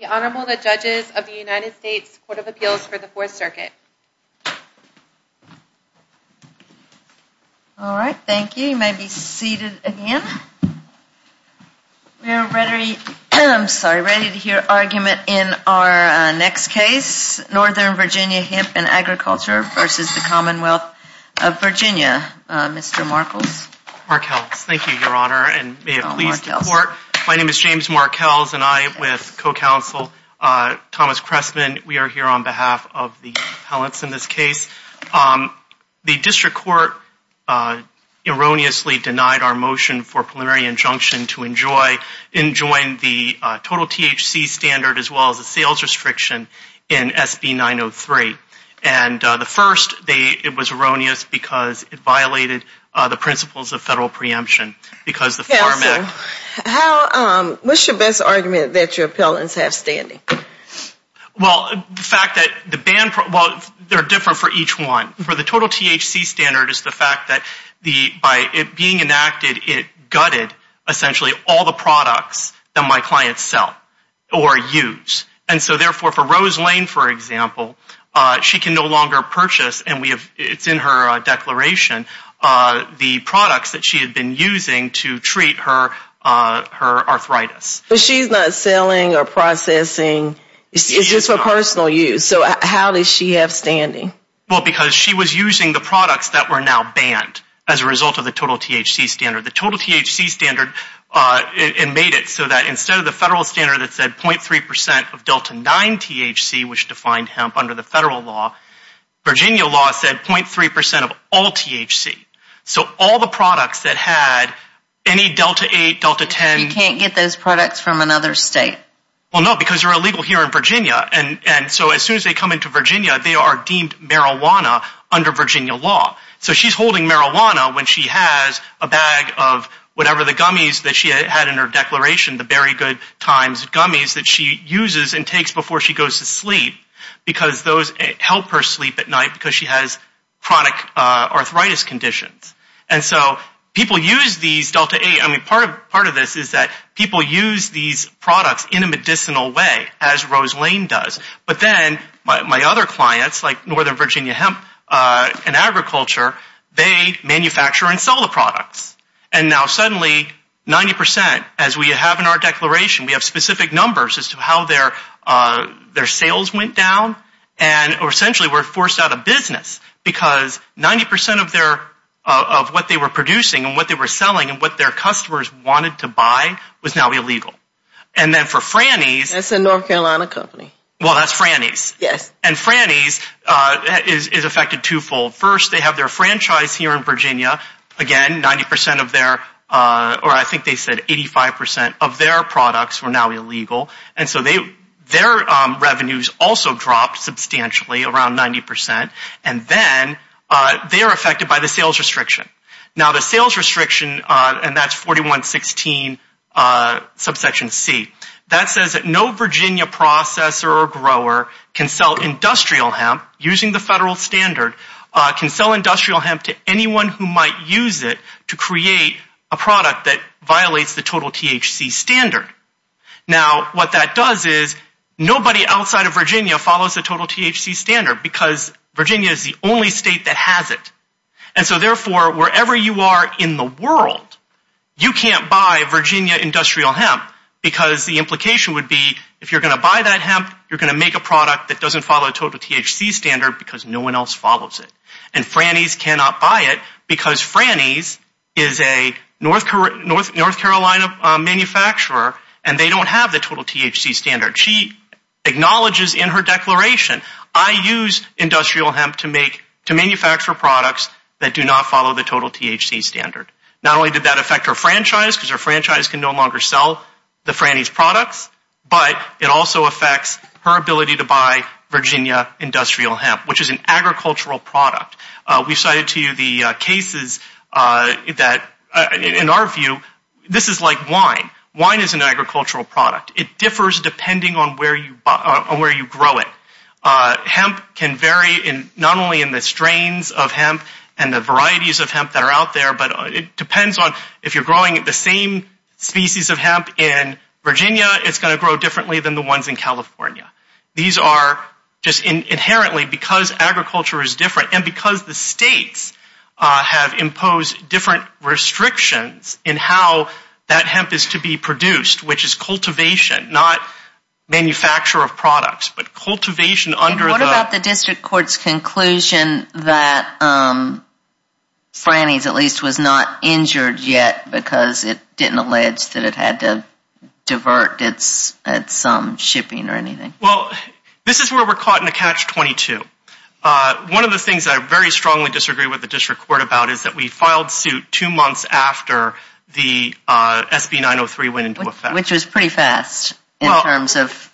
The Honorable, the Judges of the United States Court of Appeals for the Fourth Circuit. All right, thank you. You may be seated again. We are ready to hear argument in our next case, Northern Virginia Hemp and Agriculture v. the Commonwealth of Virginia. Mr. Markels. Markels, thank you, Your Honor, and may it please the Court. My name is James Markels and I, with co-counsel Thomas Cressman, we are here on behalf of the appellants in this case. The District Court erroneously denied our motion for preliminary injunction to enjoin the total THC standard as well as the sales restriction in SB 903. And the first, it was erroneous because it violated the principles of federal preemption because the Farm Act. What's your best argument that your appellants have standing? Well, the fact that the ban, well, they're different for each one. For the total THC standard, it's the fact that by it being enacted, it gutted essentially all the products that my clients sell or use. And so therefore, for Rose Lane, for example, she can no longer purchase, and it's in her declaration, the products that she had been using to treat her arthritis. But she's not selling or processing. It's just for personal use. So how does she have standing? Well, because she was using the products that were now banned as a result of the total THC standard. The total THC standard, it made it so that instead of the federal standard that said 0.3% of Delta 9 THC, which defined hemp under the federal law, Virginia law said 0.3% of all THC. So all the products that had any Delta 8, Delta 10. You can't get those products from another state? Well, no, because they're illegal here in Virginia. And so as soon as they come into Virginia, they are deemed marijuana under Virginia law. So she's holding marijuana when she has a bag of whatever the gummies that she had in her declaration, the Very Good Times gummies that she uses and takes before she goes to sleep because those help her sleep at night because she has chronic arthritis conditions. And so people use these Delta 8. I mean, part of this is that people use these products in a medicinal way, as Rose Lane does. But then my other clients, like Northern Virginia Hemp and Agriculture, they manufacture and sell the products. And now suddenly 90%, as we have in our declaration, we have specific numbers as to how their sales went down. And essentially we're forced out of business because 90% of what they were producing and what they were selling and what their customers wanted to buy was now illegal. And then for Franny's. That's a North Carolina company. Well, that's Franny's. Yes. And Franny's is affected twofold. First, they have their franchise here in Virginia. Again, 90% of their, or I think they said 85% of their products were now illegal. And so their revenues also dropped substantially, around 90%. And then they are affected by the sales restriction. Now, the sales restriction, and that's 4116 subsection C, that says that no Virginia processor or grower can sell industrial hemp using the federal standard, can sell industrial hemp to anyone who might use it to create a product that violates the total THC standard. Now, what that does is nobody outside of Virginia follows the total THC standard because Virginia is the only state that has it. And so therefore, wherever you are in the world, you can't buy Virginia industrial hemp because the implication would be if you're going to buy that hemp, you're going to make a product that doesn't follow the total THC standard because no one else follows it. And Franny's cannot buy it because Franny's is a North Carolina manufacturer and they don't have the total THC standard. She acknowledges in her declaration, I use industrial hemp to make, to manufacture products that do not follow the total THC standard. Not only did that affect her franchise because her franchise can no longer sell the Franny's products, but it also affects her ability to buy Virginia industrial hemp, which is an agricultural product. We cited to you the cases that, in our view, this is like wine. Wine is an agricultural product. It differs depending on where you grow it. Hemp can vary not only in the strains of hemp and the varieties of hemp that are out there, but it depends on if you're growing the same species of hemp in Virginia, it's going to grow differently than the ones in California. These are just inherently because agriculture is different and because the states have imposed different restrictions in how that hemp is to be produced, which is cultivation, not manufacture of products, but cultivation under the- And what about the district court's conclusion that Franny's at least was not injured yet because it didn't allege that it had to divert its shipping or anything? Well, this is where we're caught in a catch-22. One of the things I very strongly disagree with the district court about is that we filed suit two months after the SB903 went into effect. Which was pretty fast in terms of-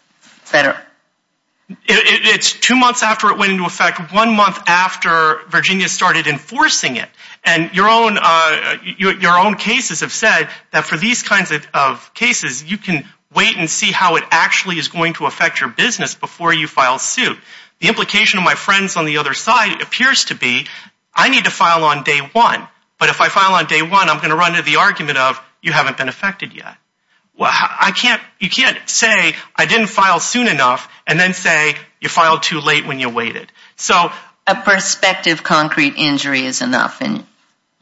It's two months after it went into effect, one month after Virginia started enforcing it, and your own cases have said that for these kinds of cases, you can wait and see how it actually is going to affect your business before you file suit. The implication of my friends on the other side appears to be, I need to file on day one, but if I file on day one, I'm going to run into the argument of, you haven't been affected yet. You can't say, I didn't file soon enough, and then say, you filed too late when you waited. A prospective concrete injury is enough.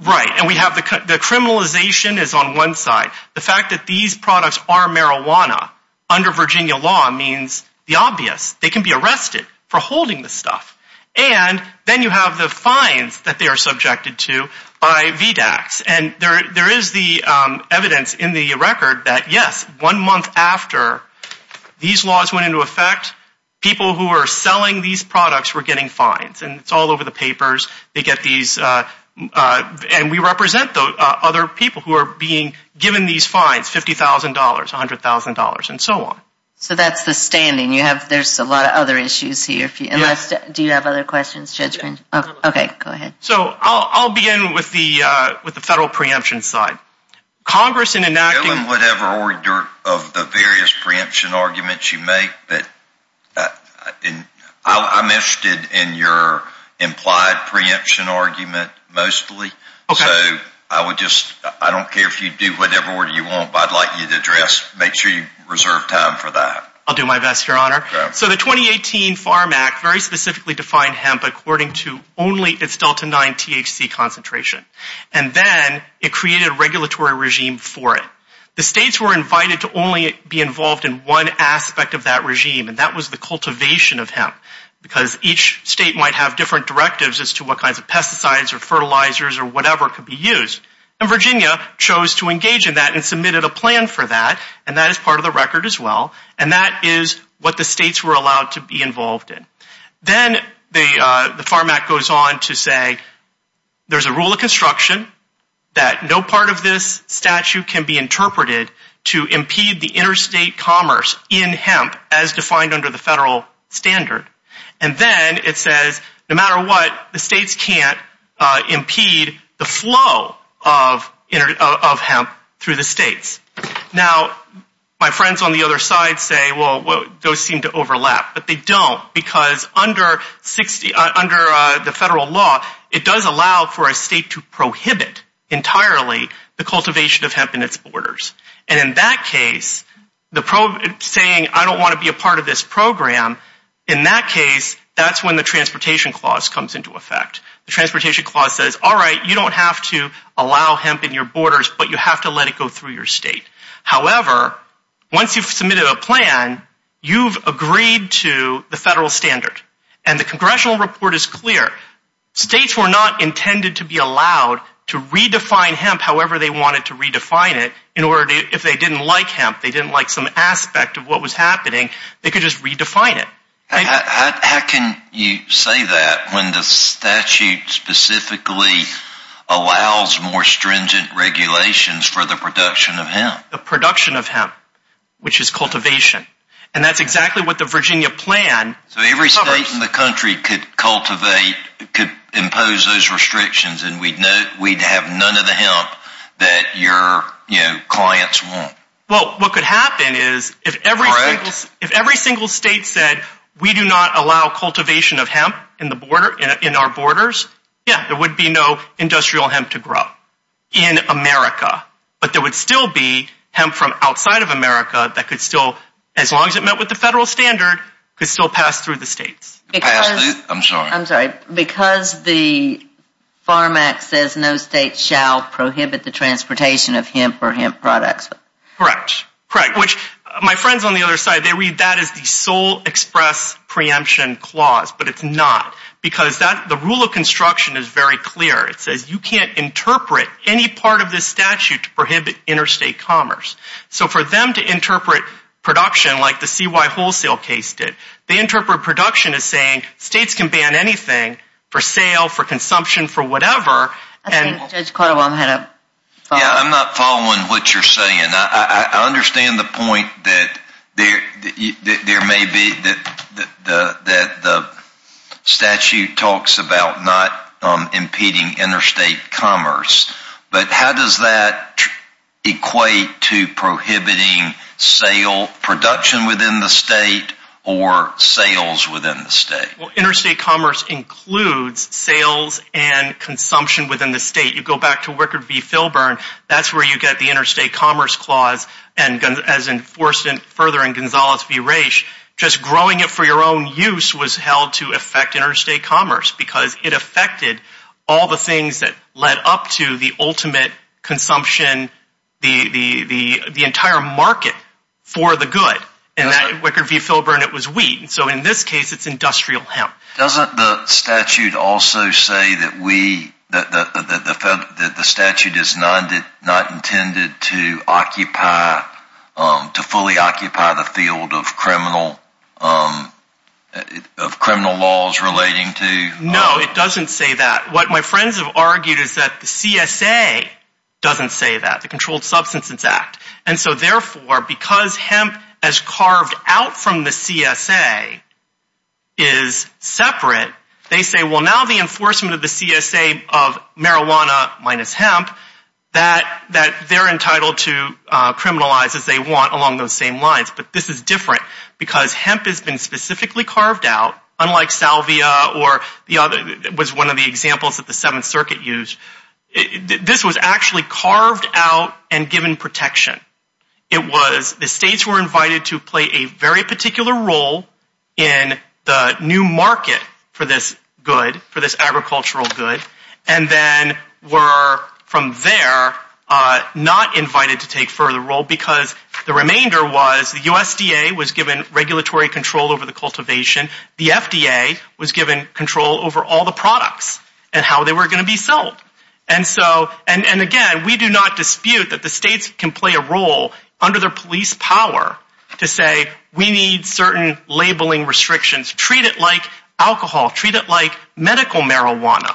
Right, and the criminalization is on one side. The fact that these products are marijuana under Virginia law means the obvious. They can be arrested for holding the stuff. And then you have the fines that they are subjected to by VDACs. And there is the evidence in the record that, yes, one month after these laws went into effect, people who are selling these products were getting fines. And it's all over the papers. And we represent other people who are being given these fines, $50,000, $100,000, and so on. So that's the standing. There's a lot of other issues here. Do you have other questions, Judgment? Yes. Okay, go ahead. So I'll begin with the federal preemption side. Congress in enacting... Whatever order of the various preemption arguments you make, but I'm interested in your implied preemption argument mostly. Okay. So I would just, I don't care if you do whatever order you want, but I'd like you to address, make sure you reserve time for that. I'll do my best, Your Honor. Okay. So the 2018 Farm Act very specifically defined hemp according to only its Delta 9 THC concentration. And then it created a regulatory regime for it. The states were invited to only be involved in one aspect of that regime, and that was the cultivation of hemp. Because each state might have different directives as to what kinds of pesticides or fertilizers or whatever could be used. And Virginia chose to engage in that and submitted a plan for that, and that is part of the record as well. And that is what the states were allowed to be involved in. Then the Farm Act goes on to say there's a rule of construction that no part of this statute can be interpreted to impede the interstate commerce in hemp as defined under the federal standard. And then it says no matter what, the states can't impede the flow of hemp through the states. Now, my friends on the other side say, well, those seem to overlap. But they don't because under the federal law, it does allow for a state to prohibit entirely the cultivation of hemp in its borders. And in that case, saying I don't want to be a part of this program, in that case, that's when the Transportation Clause comes into effect. The Transportation Clause says, all right, you don't have to allow hemp in your borders, but you have to let it go through your state. However, once you've submitted a plan, you've agreed to the federal standard. And the congressional report is clear. States were not intended to be allowed to redefine hemp however they wanted to redefine it in order to, if they didn't like hemp, they didn't like some aspect of what was happening, they could just redefine it. How can you say that when the statute specifically allows more stringent regulations for the production of hemp? The production of hemp, which is cultivation. And that's exactly what the Virginia plan covers. So every state in the country could cultivate, could impose those restrictions, and we'd have none of the hemp that your clients want. Well, what could happen is if every single state said we do not allow cultivation of hemp in our borders, yeah, there would be no industrial hemp to grow in America. But there would still be hemp from outside of America that could still, as long as it met with the federal standard, could still pass through the states. I'm sorry. I'm sorry. Because the FARM Act says no state shall prohibit the transportation of hemp or hemp products. Correct. Correct. Which my friends on the other side, they read that as the sole express preemption clause, but it's not. Because the rule of construction is very clear. It says you can't interpret any part of this statute to prohibit interstate commerce. So for them to interpret production like the CY wholesale case did, they interpret production as saying states can ban anything for sale, for consumption, for whatever. Judge Caldwell, I'm going to follow up. Yeah, I'm not following what you're saying. I understand the point that there may be that the statute talks about not impeding interstate commerce. But how does that equate to prohibiting sale, production within the state or sales within the state? Well, interstate commerce includes sales and consumption within the state. You go back to Wicker v. Filburn, that's where you get the interstate commerce clause. And as enforced further in Gonzales v. Raich, just growing it for your own use was held to affect interstate commerce because it affected all the things that led up to the ultimate consumption, the entire market for the good. In Wicker v. Filburn, it was wheat. So in this case, it's industrial hemp. Doesn't the statute also say that the statute is not intended to occupy, to fully occupy the field of criminal laws relating to? No, it doesn't say that. What my friends have argued is that the CSA doesn't say that, the Controlled Substances Act. And so therefore, because hemp as carved out from the CSA is separate, they say, well, now the enforcement of the CSA of marijuana minus hemp, that they're entitled to criminalize as they want along those same lines. But this is different because hemp has been specifically carved out, or was one of the examples that the Seventh Circuit used. This was actually carved out and given protection. It was the states were invited to play a very particular role in the new market for this good, for this agricultural good, and then were from there not invited to take further role because the remainder was the USDA was given regulatory control over the cultivation. The FDA was given control over all the products and how they were going to be sold. And so, and again, we do not dispute that the states can play a role under their police power to say, we need certain labeling restrictions. Treat it like alcohol. Treat it like medical marijuana,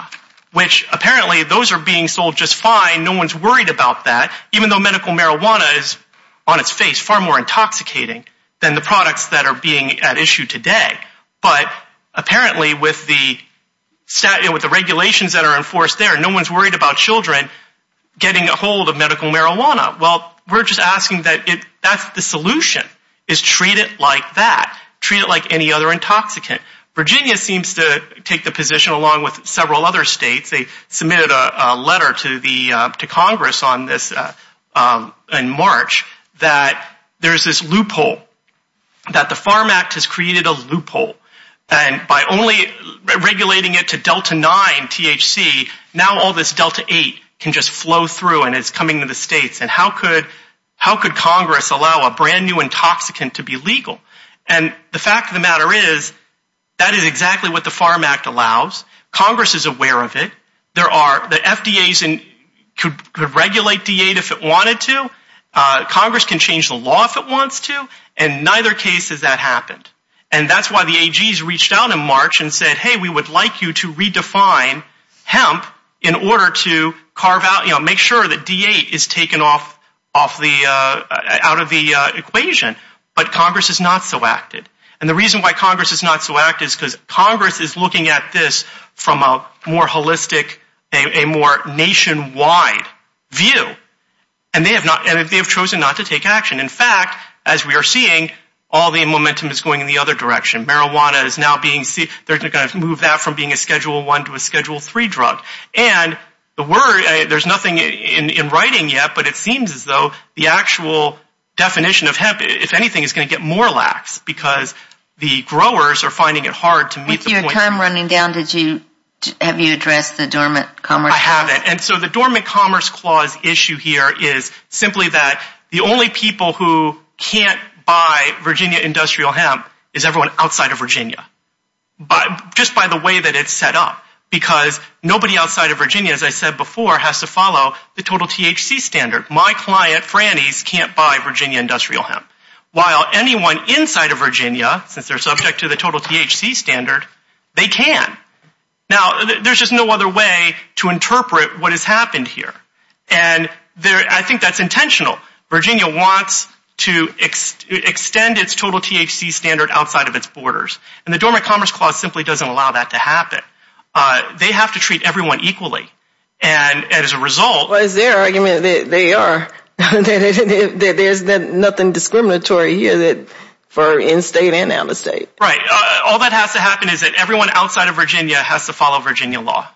which apparently those are being sold just fine. No one's worried about that, even though medical marijuana is on its face far more intoxicating than the products that are being at issue today. But apparently with the regulations that are enforced there, no one's worried about children getting a hold of medical marijuana. Well, we're just asking that that's the solution, is treat it like that. Treat it like any other intoxicant. Virginia seems to take the position along with several other states. They submitted a letter to Congress in March that there's this loophole, that the Farm Act has created a loophole. And by only regulating it to Delta 9 THC, now all this Delta 8 can just flow through and is coming to the states. And how could Congress allow a brand-new intoxicant to be legal? And the fact of the matter is, that is exactly what the Farm Act allows. Congress is aware of it. The FDA could regulate D8 if it wanted to. Congress can change the law if it wants to. And neither case has that happened. And that's why the AGs reached out in March and said, hey, we would like you to redefine hemp in order to carve out, you know, make sure that D8 is taken off out of the equation. But Congress has not so acted. And the reason why Congress has not so acted is because Congress is looking at this from a more holistic, a more nationwide view. And they have chosen not to take action. In fact, as we are seeing, all the momentum is going in the other direction. Marijuana is now being, they're going to move that from being a Schedule 1 to a Schedule 3 drug. And there's nothing in writing yet, but it seems as though the actual definition of hemp, if anything, is going to get more lax because the growers are finding it hard to meet the point. With your time running down, have you addressed the Dormant Commerce Clause? I haven't. And so the Dormant Commerce Clause issue here is simply that the only people who can't buy Virginia industrial hemp is everyone outside of Virginia. Just by the way that it's set up. Because nobody outside of Virginia, as I said before, has to follow the total THC standard. My client, Franny's, can't buy Virginia industrial hemp. While anyone inside of Virginia, since they're subject to the total THC standard, they can. Now, there's just no other way to interpret what has happened here. And I think that's intentional. Virginia wants to extend its total THC standard outside of its borders. And the Dormant Commerce Clause simply doesn't allow that to happen. They have to treat everyone equally. And as a result... Well, it's their argument that they are. That there's nothing discriminatory here for in-state and out-of-state. Right. All that has to happen is that everyone outside of Virginia has to follow Virginia law.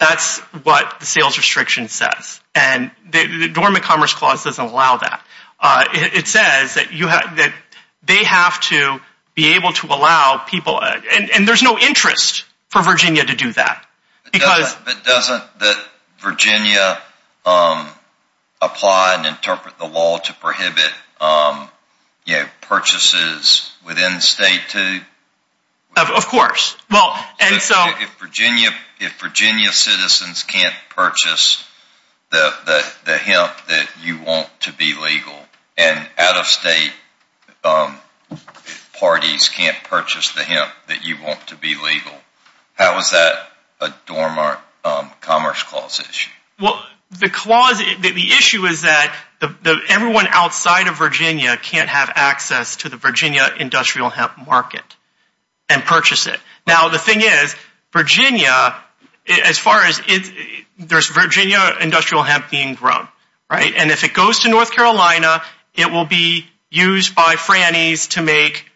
That's what the sales restriction says. And the Dormant Commerce Clause doesn't allow that. It says that they have to be able to allow people... And there's no interest for Virginia to do that. But doesn't Virginia apply and interpret the law to prohibit purchases within state too? Of course. If Virginia citizens can't purchase the hemp that you want to be legal, and out-of-state parties can't purchase the hemp that you want to be legal, how is that a Dormant Commerce Clause issue? Well, the issue is that everyone outside of Virginia can't have access to the Virginia industrial hemp market and purchase it. Now, the thing is, Virginia, as far as... There's Virginia industrial hemp being grown. And if it goes to North Carolina, it will be used by Frannies to make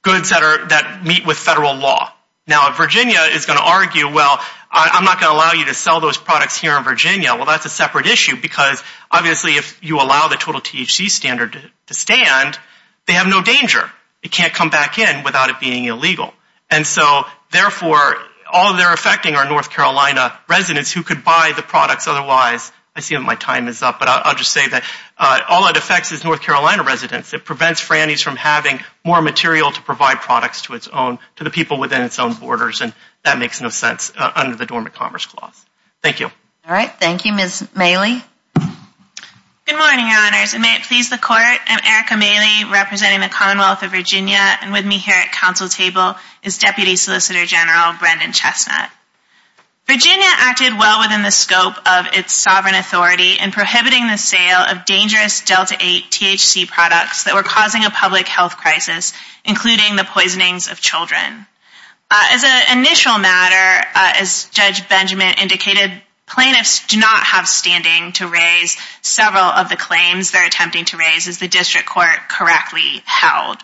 goods that meet with federal law. Now, Virginia is going to argue, well, I'm not going to allow you to sell those products here in Virginia. Well, that's a separate issue because, obviously, if you allow the total THC standard to stand, they have no danger. It can't come back in without it being illegal. And so, therefore, all they're affecting are North Carolina residents who could buy the products otherwise. I see that my time is up, but I'll just say that all it affects is North Carolina residents. It prevents Frannies from having more material to provide products to its own, to the people within its own borders, and that makes no sense under the Dormant Commerce Clause. Thank you. All right, thank you, Ms. Maley. Good morning, Your Honors, and may it please the Court. I'm Erica Maley, representing the Commonwealth of Virginia, and with me here at Council Table is Deputy Solicitor General Brendan Chestnut. Virginia acted well within the scope of its sovereign authority in prohibiting the sale of dangerous Delta-8 THC products that were causing a public health crisis, including the poisonings of children. As an initial matter, as Judge Benjamin indicated, plaintiffs do not have standing to raise several of the claims they're attempting to raise as the district court correctly held.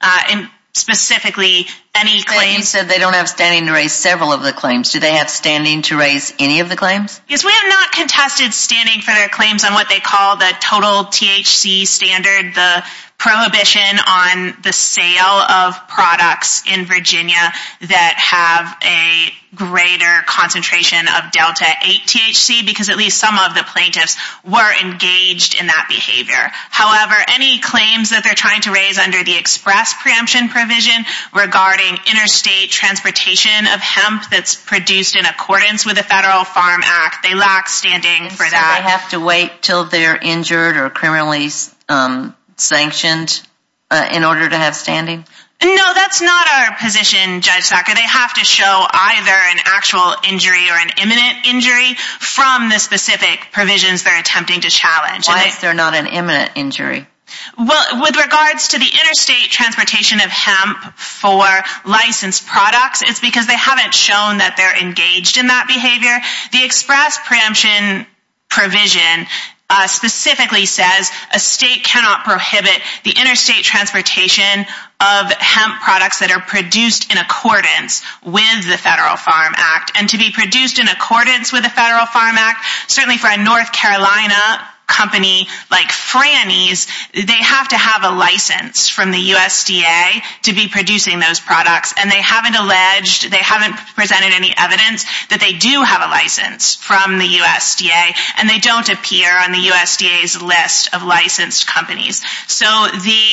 And specifically, any claims... You said they don't have standing to raise several of the claims. Do they have standing to raise any of the claims? Yes, we have not contested standing for their claims on what they call the total THC standard, the prohibition on the sale of products in Virginia that have a greater concentration of Delta-8 THC, because at least some of the plaintiffs were engaged in that behavior. However, any claims that they're trying to raise under the express preemption provision regarding interstate transportation of hemp that's produced in accordance with the Federal Farm Act, they lack standing for that. Do they have to wait until they're injured or criminally sanctioned in order to have standing? No, that's not our position, Judge Sacker. They have to show either an actual injury or an imminent injury from the specific provisions they're attempting to challenge. Why is there not an imminent injury? Well, with regards to the interstate transportation of hemp for licensed products, it's because they haven't shown that they're engaged in that behavior. The express preemption provision specifically says a state cannot prohibit the interstate transportation of hemp products that are produced in accordance with the Federal Farm Act. And to be produced in accordance with the Federal Farm Act, certainly for a North Carolina company like Franny's, they have to have a license from the USDA to be producing those products. And they haven't alleged, they haven't presented any evidence that they do have a license from the USDA, and they don't appear on the USDA's list of licensed companies. So the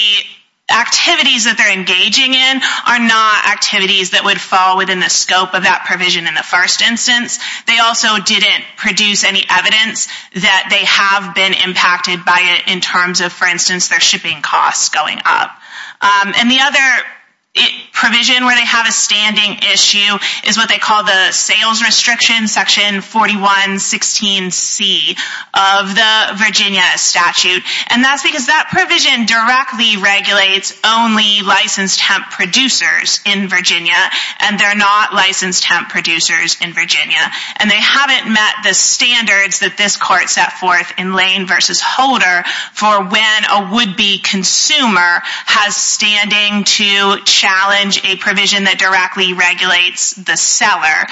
activities that they're engaging in are not activities that would fall within the scope of that provision in the first instance. They also didn't produce any evidence that they have been impacted by it in terms of, for instance, their shipping costs going up. And the other provision where they have a standing issue is what they call the Sales Restriction Section 4116C of the Virginia statute. And that's because that provision directly regulates only licensed hemp producers in Virginia, and they're not licensed hemp producers in Virginia. And they haven't met the standards that this court set forth in Lane v. Holder for when a would-be consumer has standing to challenge a provision that directly regulates the seller.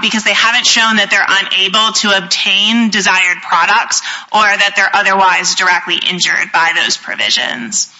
Because they haven't shown that they're unable to obtain desired products or that they're otherwise directly injured by those provisions.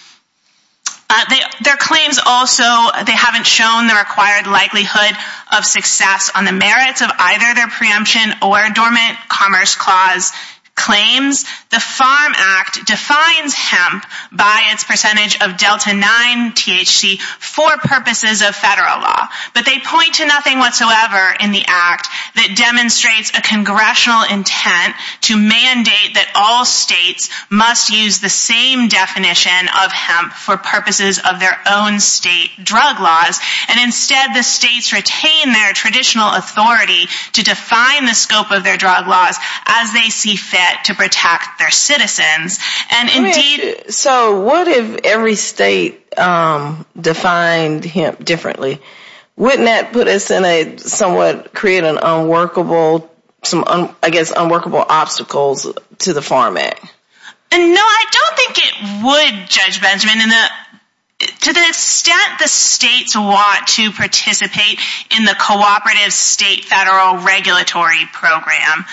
Their claims also, they haven't shown the required likelihood of success on the merits of either their preemption or Dormant Commerce Clause claims. The Farm Act defines hemp by its percentage of Delta-9 THC for purposes of federal law. But they point to nothing whatsoever in the Act that demonstrates a congressional intent to mandate that all states must use the same definition of hemp for purposes of their own state drug laws. And instead, the states retain their traditional authority to define the scope of their drug laws as they see fit to protect their citizens. And indeed... So what if every state defined hemp differently? Wouldn't that put us in a somewhat... create an unworkable... some, I guess, unworkable obstacles to the Farm Act? No, I don't think it would, Judge Benjamin. To the extent the states want to participate in the Cooperative State Federal Regulatory Program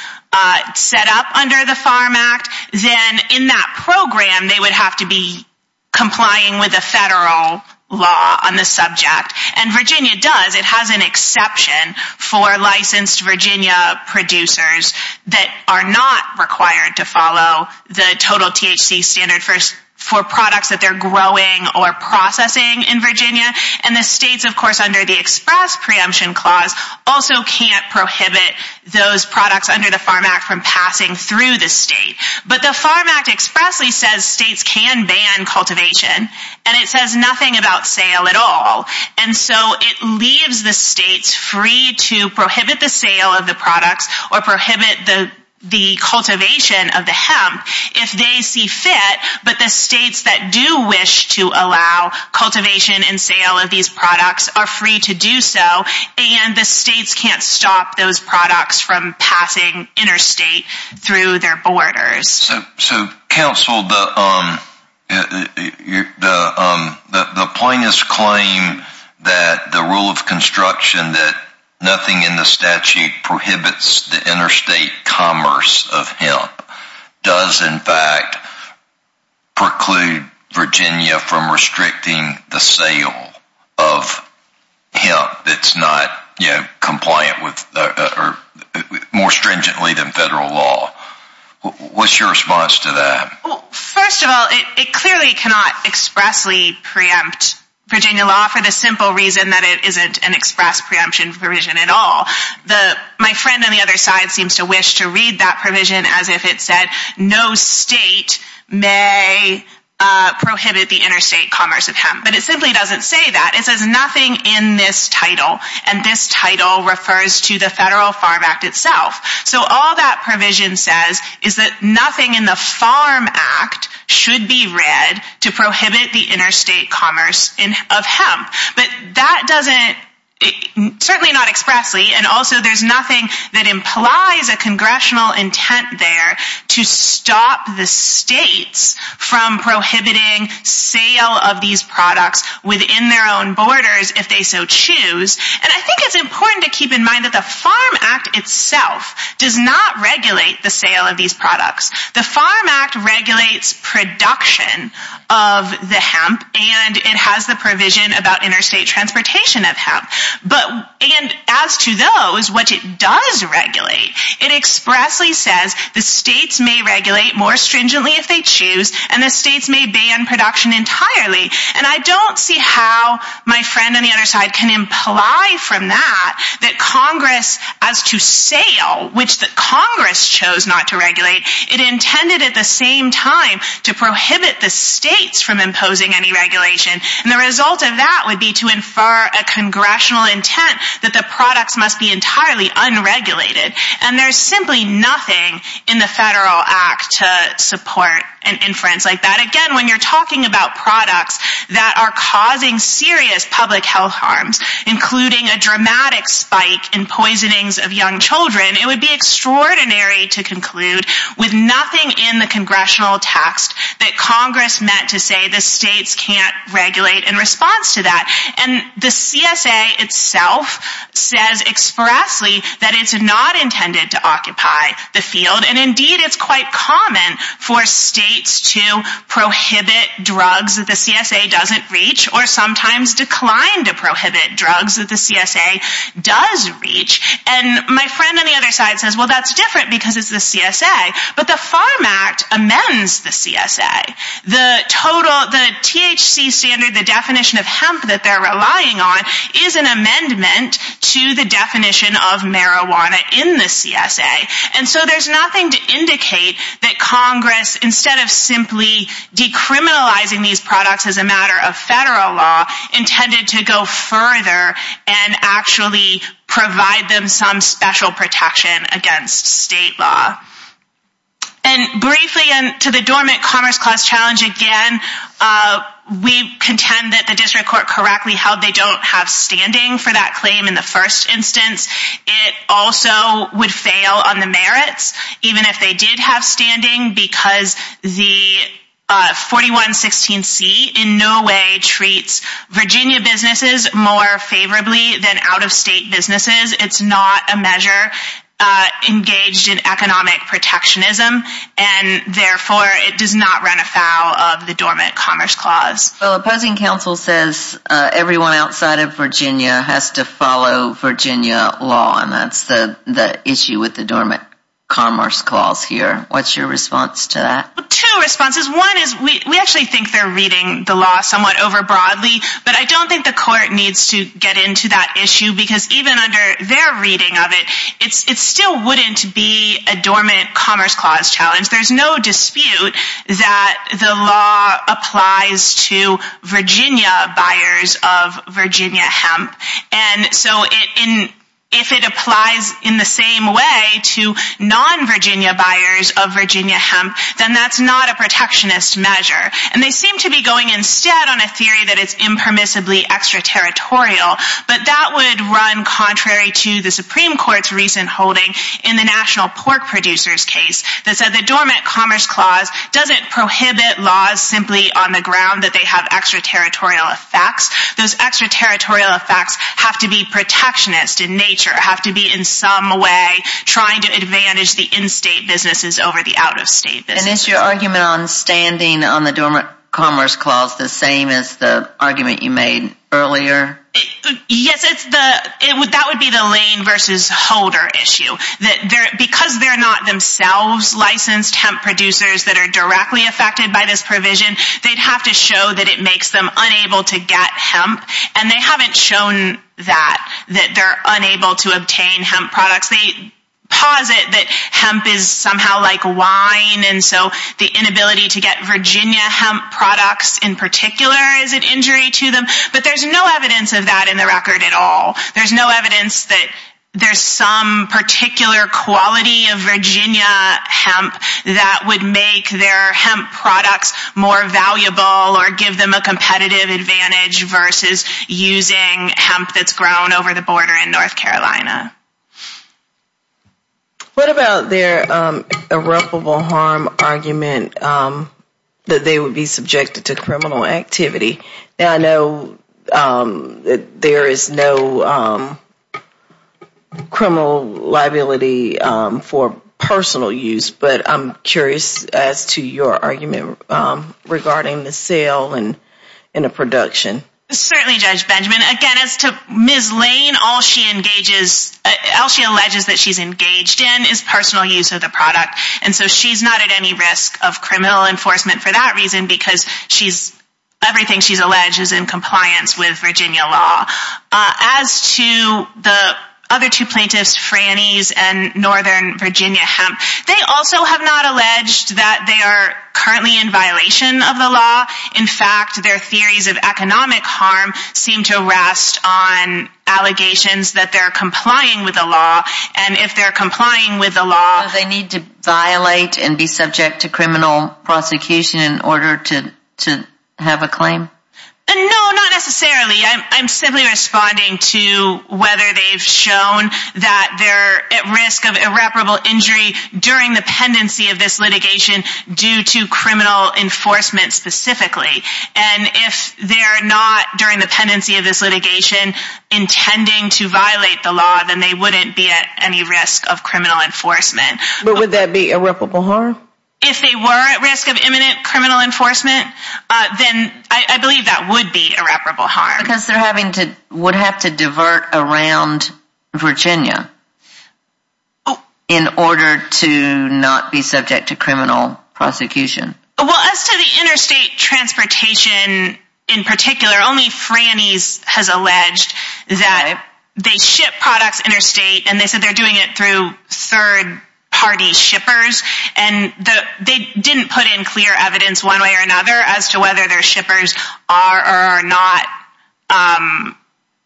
set up under the Farm Act, then in that program they would have to be complying with the federal law on the subject. And Virginia does. It has an exception for licensed Virginia producers that are not required to follow the total THC standard for products that they're growing or processing in Virginia. And the states, of course, under the Express Preemption Clause also can't prohibit those products under the Farm Act from passing through the state. But the Farm Act expressly says states can ban cultivation. And it says nothing about sale at all. And so it leaves the states free to prohibit the sale of the products or prohibit the cultivation of the hemp if they see fit. But the states that do wish to allow cultivation and sale of these products are free to do so. And the states can't stop those products from passing interstate through their borders. So, counsel, the plaintiffs claim that the rule of construction that nothing in the statute prohibits the interstate commerce of hemp does, in fact, preclude Virginia from restricting the sale of hemp that's not compliant with more stringently than federal law. What's your response to that? First of all, it clearly cannot expressly preempt Virginia law for the simple reason that it isn't an express preemption provision at all. My friend on the other side seems to wish to read that provision as if it said no state may prohibit the interstate commerce of hemp. But it simply doesn't say that. It says nothing in this title. And this title refers to the Federal Farm Act itself. So all that provision says is that nothing in the Farm Act should be read to prohibit the interstate commerce of hemp. But that doesn't, certainly not expressly, and also there's nothing that implies a congressional intent there to stop the states from prohibiting sale of these products within their own borders if they so choose. And I think it's important to keep in mind that the Farm Act itself does not regulate the sale of these products. The Farm Act regulates production of the hemp, and it has the provision about interstate transportation of hemp. And as to those which it does regulate, it expressly says the states may regulate more stringently if they choose, and the states may ban production entirely. And I don't see how my friend on the other side can imply from that that Congress, as to sale, which Congress chose not to regulate, it intended at the same time to prohibit the states from imposing any regulation. And the result of that would be to infer a congressional intent that the products must be entirely unregulated. And there's simply nothing in the Federal Act to support an inference like that. Again, when you're talking about products that are causing serious public health harms, including a dramatic spike in poisonings of young children, it would be extraordinary to conclude with nothing in the congressional text that Congress meant to say the states can't regulate in response to that. And the CSA itself says expressly that it's not intended to occupy the field, and indeed it's quite common for states to prohibit drugs that the CSA doesn't reach, or sometimes decline to prohibit drugs that the CSA does reach. And my friend on the other side says, well, that's different because it's the CSA. But the Farm Act amends the CSA. The THC standard, the definition of hemp that they're relying on, is an amendment to the definition of marijuana in the CSA. And so there's nothing to indicate that Congress, instead of simply decriminalizing these products as a matter of federal law, intended to go further and actually provide them some special protection against state law. And briefly, to the dormant commerce clause challenge again, we contend that the district court correctly held they don't have standing for that claim in the first instance. It also would fail on the merits, even if they did have standing, because the 4116C in no way treats Virginia businesses more favorably than out-of-state businesses. It's not a measure engaged in economic protectionism, and therefore it does not run afoul of the dormant commerce clause. Well, opposing counsel says everyone outside of Virginia has to follow Virginia law, and that's the issue with the dormant commerce clause here. What's your response to that? Two responses. One is we actually think they're reading the law somewhat over broadly, but I don't think the court needs to get into that issue, because even under their reading of it, it still wouldn't be a dormant commerce clause challenge. There's no dispute that the law applies to Virginia buyers of Virginia hemp, and so if it applies in the same way to non-Virginia buyers of Virginia hemp, then that's not a protectionist measure. And they seem to be going instead on a theory that it's impermissibly extraterritorial, but that would run contrary to the Supreme Court's recent holding in the National Pork Producers case that said the dormant commerce clause doesn't prohibit laws simply on the ground that they have extraterritorial effects. Those extraterritorial effects have to be protectionist in nature, have to be in some way trying to advantage the in-state businesses over the out-of-state businesses. And is your argument on standing on the dormant commerce clause the same as the argument you made earlier? Yes, that would be the Lane v. Holder issue. Because they're not themselves licensed hemp producers that are directly affected by this provision, they'd have to show that it makes them unable to get hemp, and they haven't shown that, that they're unable to obtain hemp products. They posit that hemp is somehow like wine, and so the inability to get Virginia hemp products in particular is an injury to them, but there's no evidence of that in the record at all. There's no evidence that there's some particular quality of Virginia hemp that would make their hemp products more valuable or give them a competitive advantage versus using hemp that's grown over the border in North Carolina. What about their irreparable harm argument that they would be subjected to criminal activity? I know that there is no criminal liability for personal use, but I'm curious as to your argument regarding the sale and the production. Certainly, Judge Benjamin. Again, as to Ms. Lane, all she alleges that she's engaged in is personal use of the product, and so she's not at any risk of criminal enforcement for that reason because everything she's alleged is in compliance with Virginia law. As to the other two plaintiffs, Franny's and Northern Virginia Hemp, they also have not alleged that they are currently in violation of the law. In fact, their theories of economic harm seem to rest on allegations that they're complying with the law, so they need to violate and be subject to criminal prosecution in order to have a claim? No, not necessarily. I'm simply responding to whether they've shown that they're at risk of irreparable injury during the pendency of this litigation due to criminal enforcement specifically, and if they're not during the pendency of this litigation intending to violate the law, then they wouldn't be at any risk of criminal enforcement. But would that be irreparable harm? If they were at risk of imminent criminal enforcement, then I believe that would be irreparable harm. Because they would have to divert around Virginia in order to not be subject to criminal prosecution. Well, as to the interstate transportation in particular, only Franny's has alleged that they ship products interstate, and they said they're doing it through third-party shippers, and they didn't put in clear evidence one way or another as to whether their shippers are or are not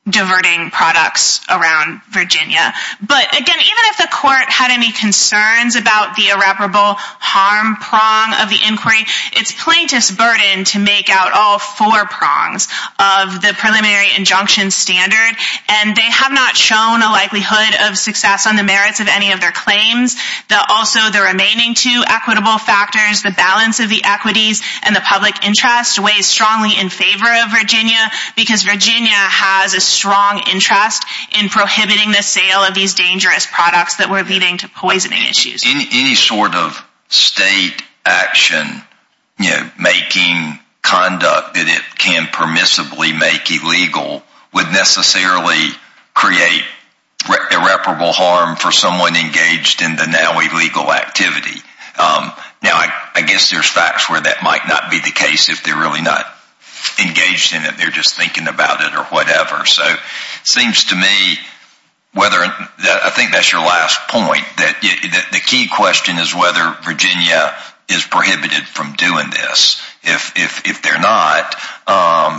diverting products around Virginia. But again, even if the court had any concerns about the irreparable harm prong of the inquiry, it's plaintiff's burden to make out all four prongs of the preliminary injunction standard, and they have not shown a likelihood of success on the merits of any of their claims. Also, the remaining two equitable factors, the balance of the equities and the public interest, weighs strongly in favor of Virginia, because Virginia has a strong interest in prohibiting the sale of these dangerous products that were leading to poisoning issues. Any sort of state action making conduct that it can permissibly make illegal would necessarily create irreparable harm for someone engaged in the now illegal activity. Now, I guess there's facts where that might not be the case if they're really not engaged in it, they're just thinking about it or whatever. So it seems to me, I think that's your last point, that the key question is whether Virginia is prohibited from doing this. If they're not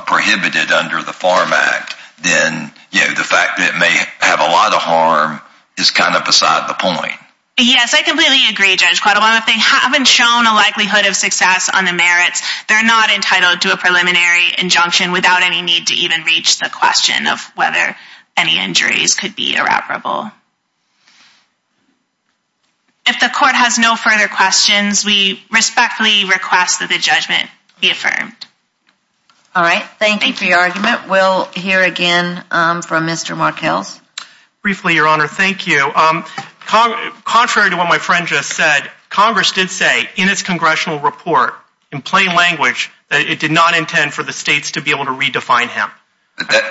prohibited under the Farm Act, then the fact that it may have a lot of harm is kind of beside the point. Yes, I completely agree, Judge Quattlebaum. If they haven't shown a likelihood of success on the merits, they're not entitled to a preliminary injunction without any need to even reach the question of whether any injuries could be irreparable. If the court has no further questions, we respectfully request that the judgment be affirmed. All right, thank you for your argument. We'll hear again from Mr. Markels. Briefly, Your Honor, thank you. Contrary to what my friend just said, Congress did say in its congressional report, in plain language, that it did not intend for the states to be able to redefine hemp.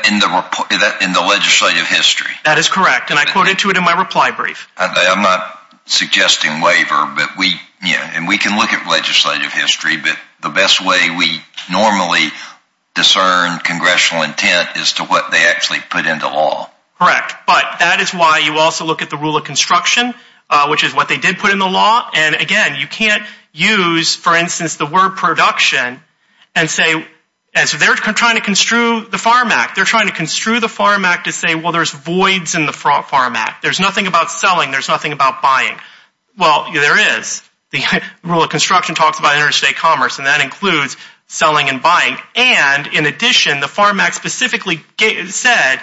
In the legislative history? That is correct, and I quoted to it in my reply brief. I'm not suggesting waiver, and we can look at legislative history, but the best way we normally discern congressional intent is to what they actually put into law. Correct, but that is why you also look at the rule of construction, which is what they did put into law. And, again, you can't use, for instance, the word production and say, and so they're trying to construe the Farm Act. They're trying to construe the Farm Act to say, well, there's voids in the Farm Act. There's nothing about selling. There's nothing about buying. Well, there is. The rule of construction talks about interstate commerce, and that includes selling and buying. And, in addition, the Farm Act specifically said,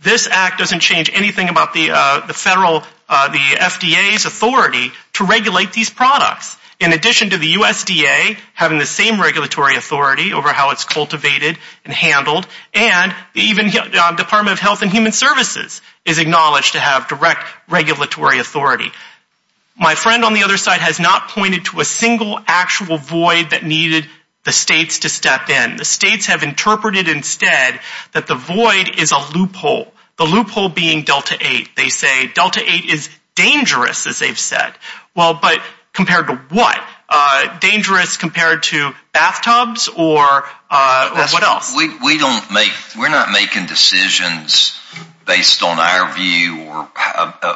this act doesn't change anything about the FDA's authority to regulate these products. In addition to the USDA having the same regulatory authority over how it's cultivated and handled, and even the Department of Health and Human Services is acknowledged to have direct regulatory authority. My friend on the other side has not pointed to a single actual void that needed the states to step in. The states have interpreted instead that the void is a loophole, the loophole being Delta 8. They say Delta 8 is dangerous, as they've said. Well, but compared to what? Dangerous compared to bathtubs or what else? We're not making decisions based on our view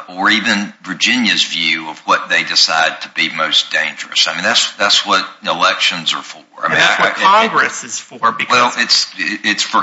or even Virginia's view of what they decide to be most dangerous. I mean, that's what elections are for. That's what Congress is for. Well, it's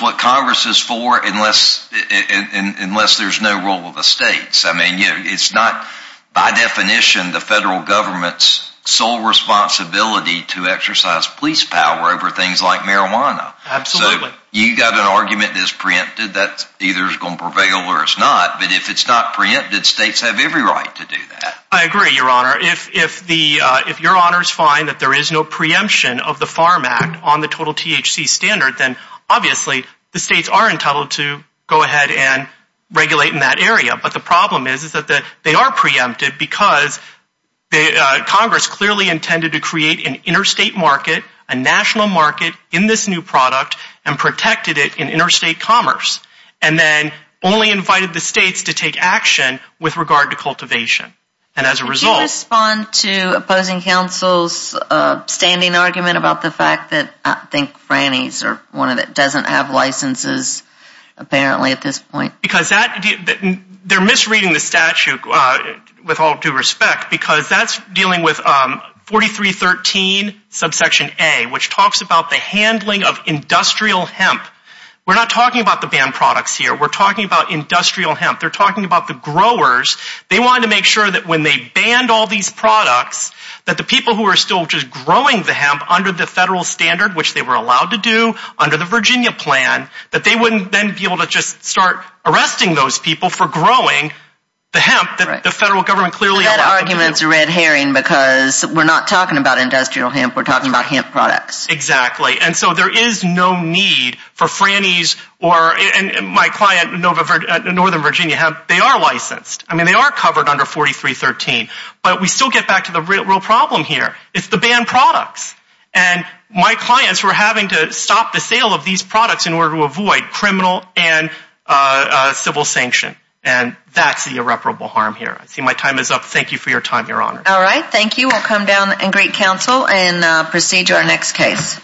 what Congress is for unless there's no role of the states. I mean, it's not by definition the federal government's sole responsibility to exercise police power over things like marijuana. Absolutely. So you've got an argument that's preempted that either is going to prevail or it's not. But if it's not preempted, states have every right to do that. I agree, Your Honor. If Your Honors find that there is no preemption of the Farm Act on the total THC standard, then obviously the states are entitled to go ahead and regulate in that area. But the problem is that they are preempted because Congress clearly intended to create an interstate market, a national market in this new product and protected it in interstate commerce and then only invited the states to take action with regard to cultivation. And as a result... Could you respond to opposing counsel's standing argument about the fact that I think Franny's is one that doesn't have licenses apparently at this point? Because they're misreading the statute with all due respect because that's dealing with 4313 subsection A, which talks about the handling of industrial hemp. We're not talking about the banned products here. We're talking about industrial hemp. They're talking about the growers. They wanted to make sure that when they banned all these products, that the people who are still just growing the hemp under the federal standard, which they were allowed to do under the Virginia plan, that they wouldn't then be able to just start arresting those people for growing the hemp that the federal government clearly allowed them to do. That argument is a red herring because we're not talking about industrial hemp. We're talking about hemp products. Exactly. And so there is no need for Franny's or my client Northern Virginia Hemp. They are licensed. I mean, they are covered under 4313. But we still get back to the real problem here. It's the banned products. And my clients were having to stop the sale of these products in order to avoid criminal and civil sanction. And that's the irreparable harm here. I see my time is up. Thank you for your time, Your Honor. All right. Thank you. We'll come down and greet counsel and proceed to our next case.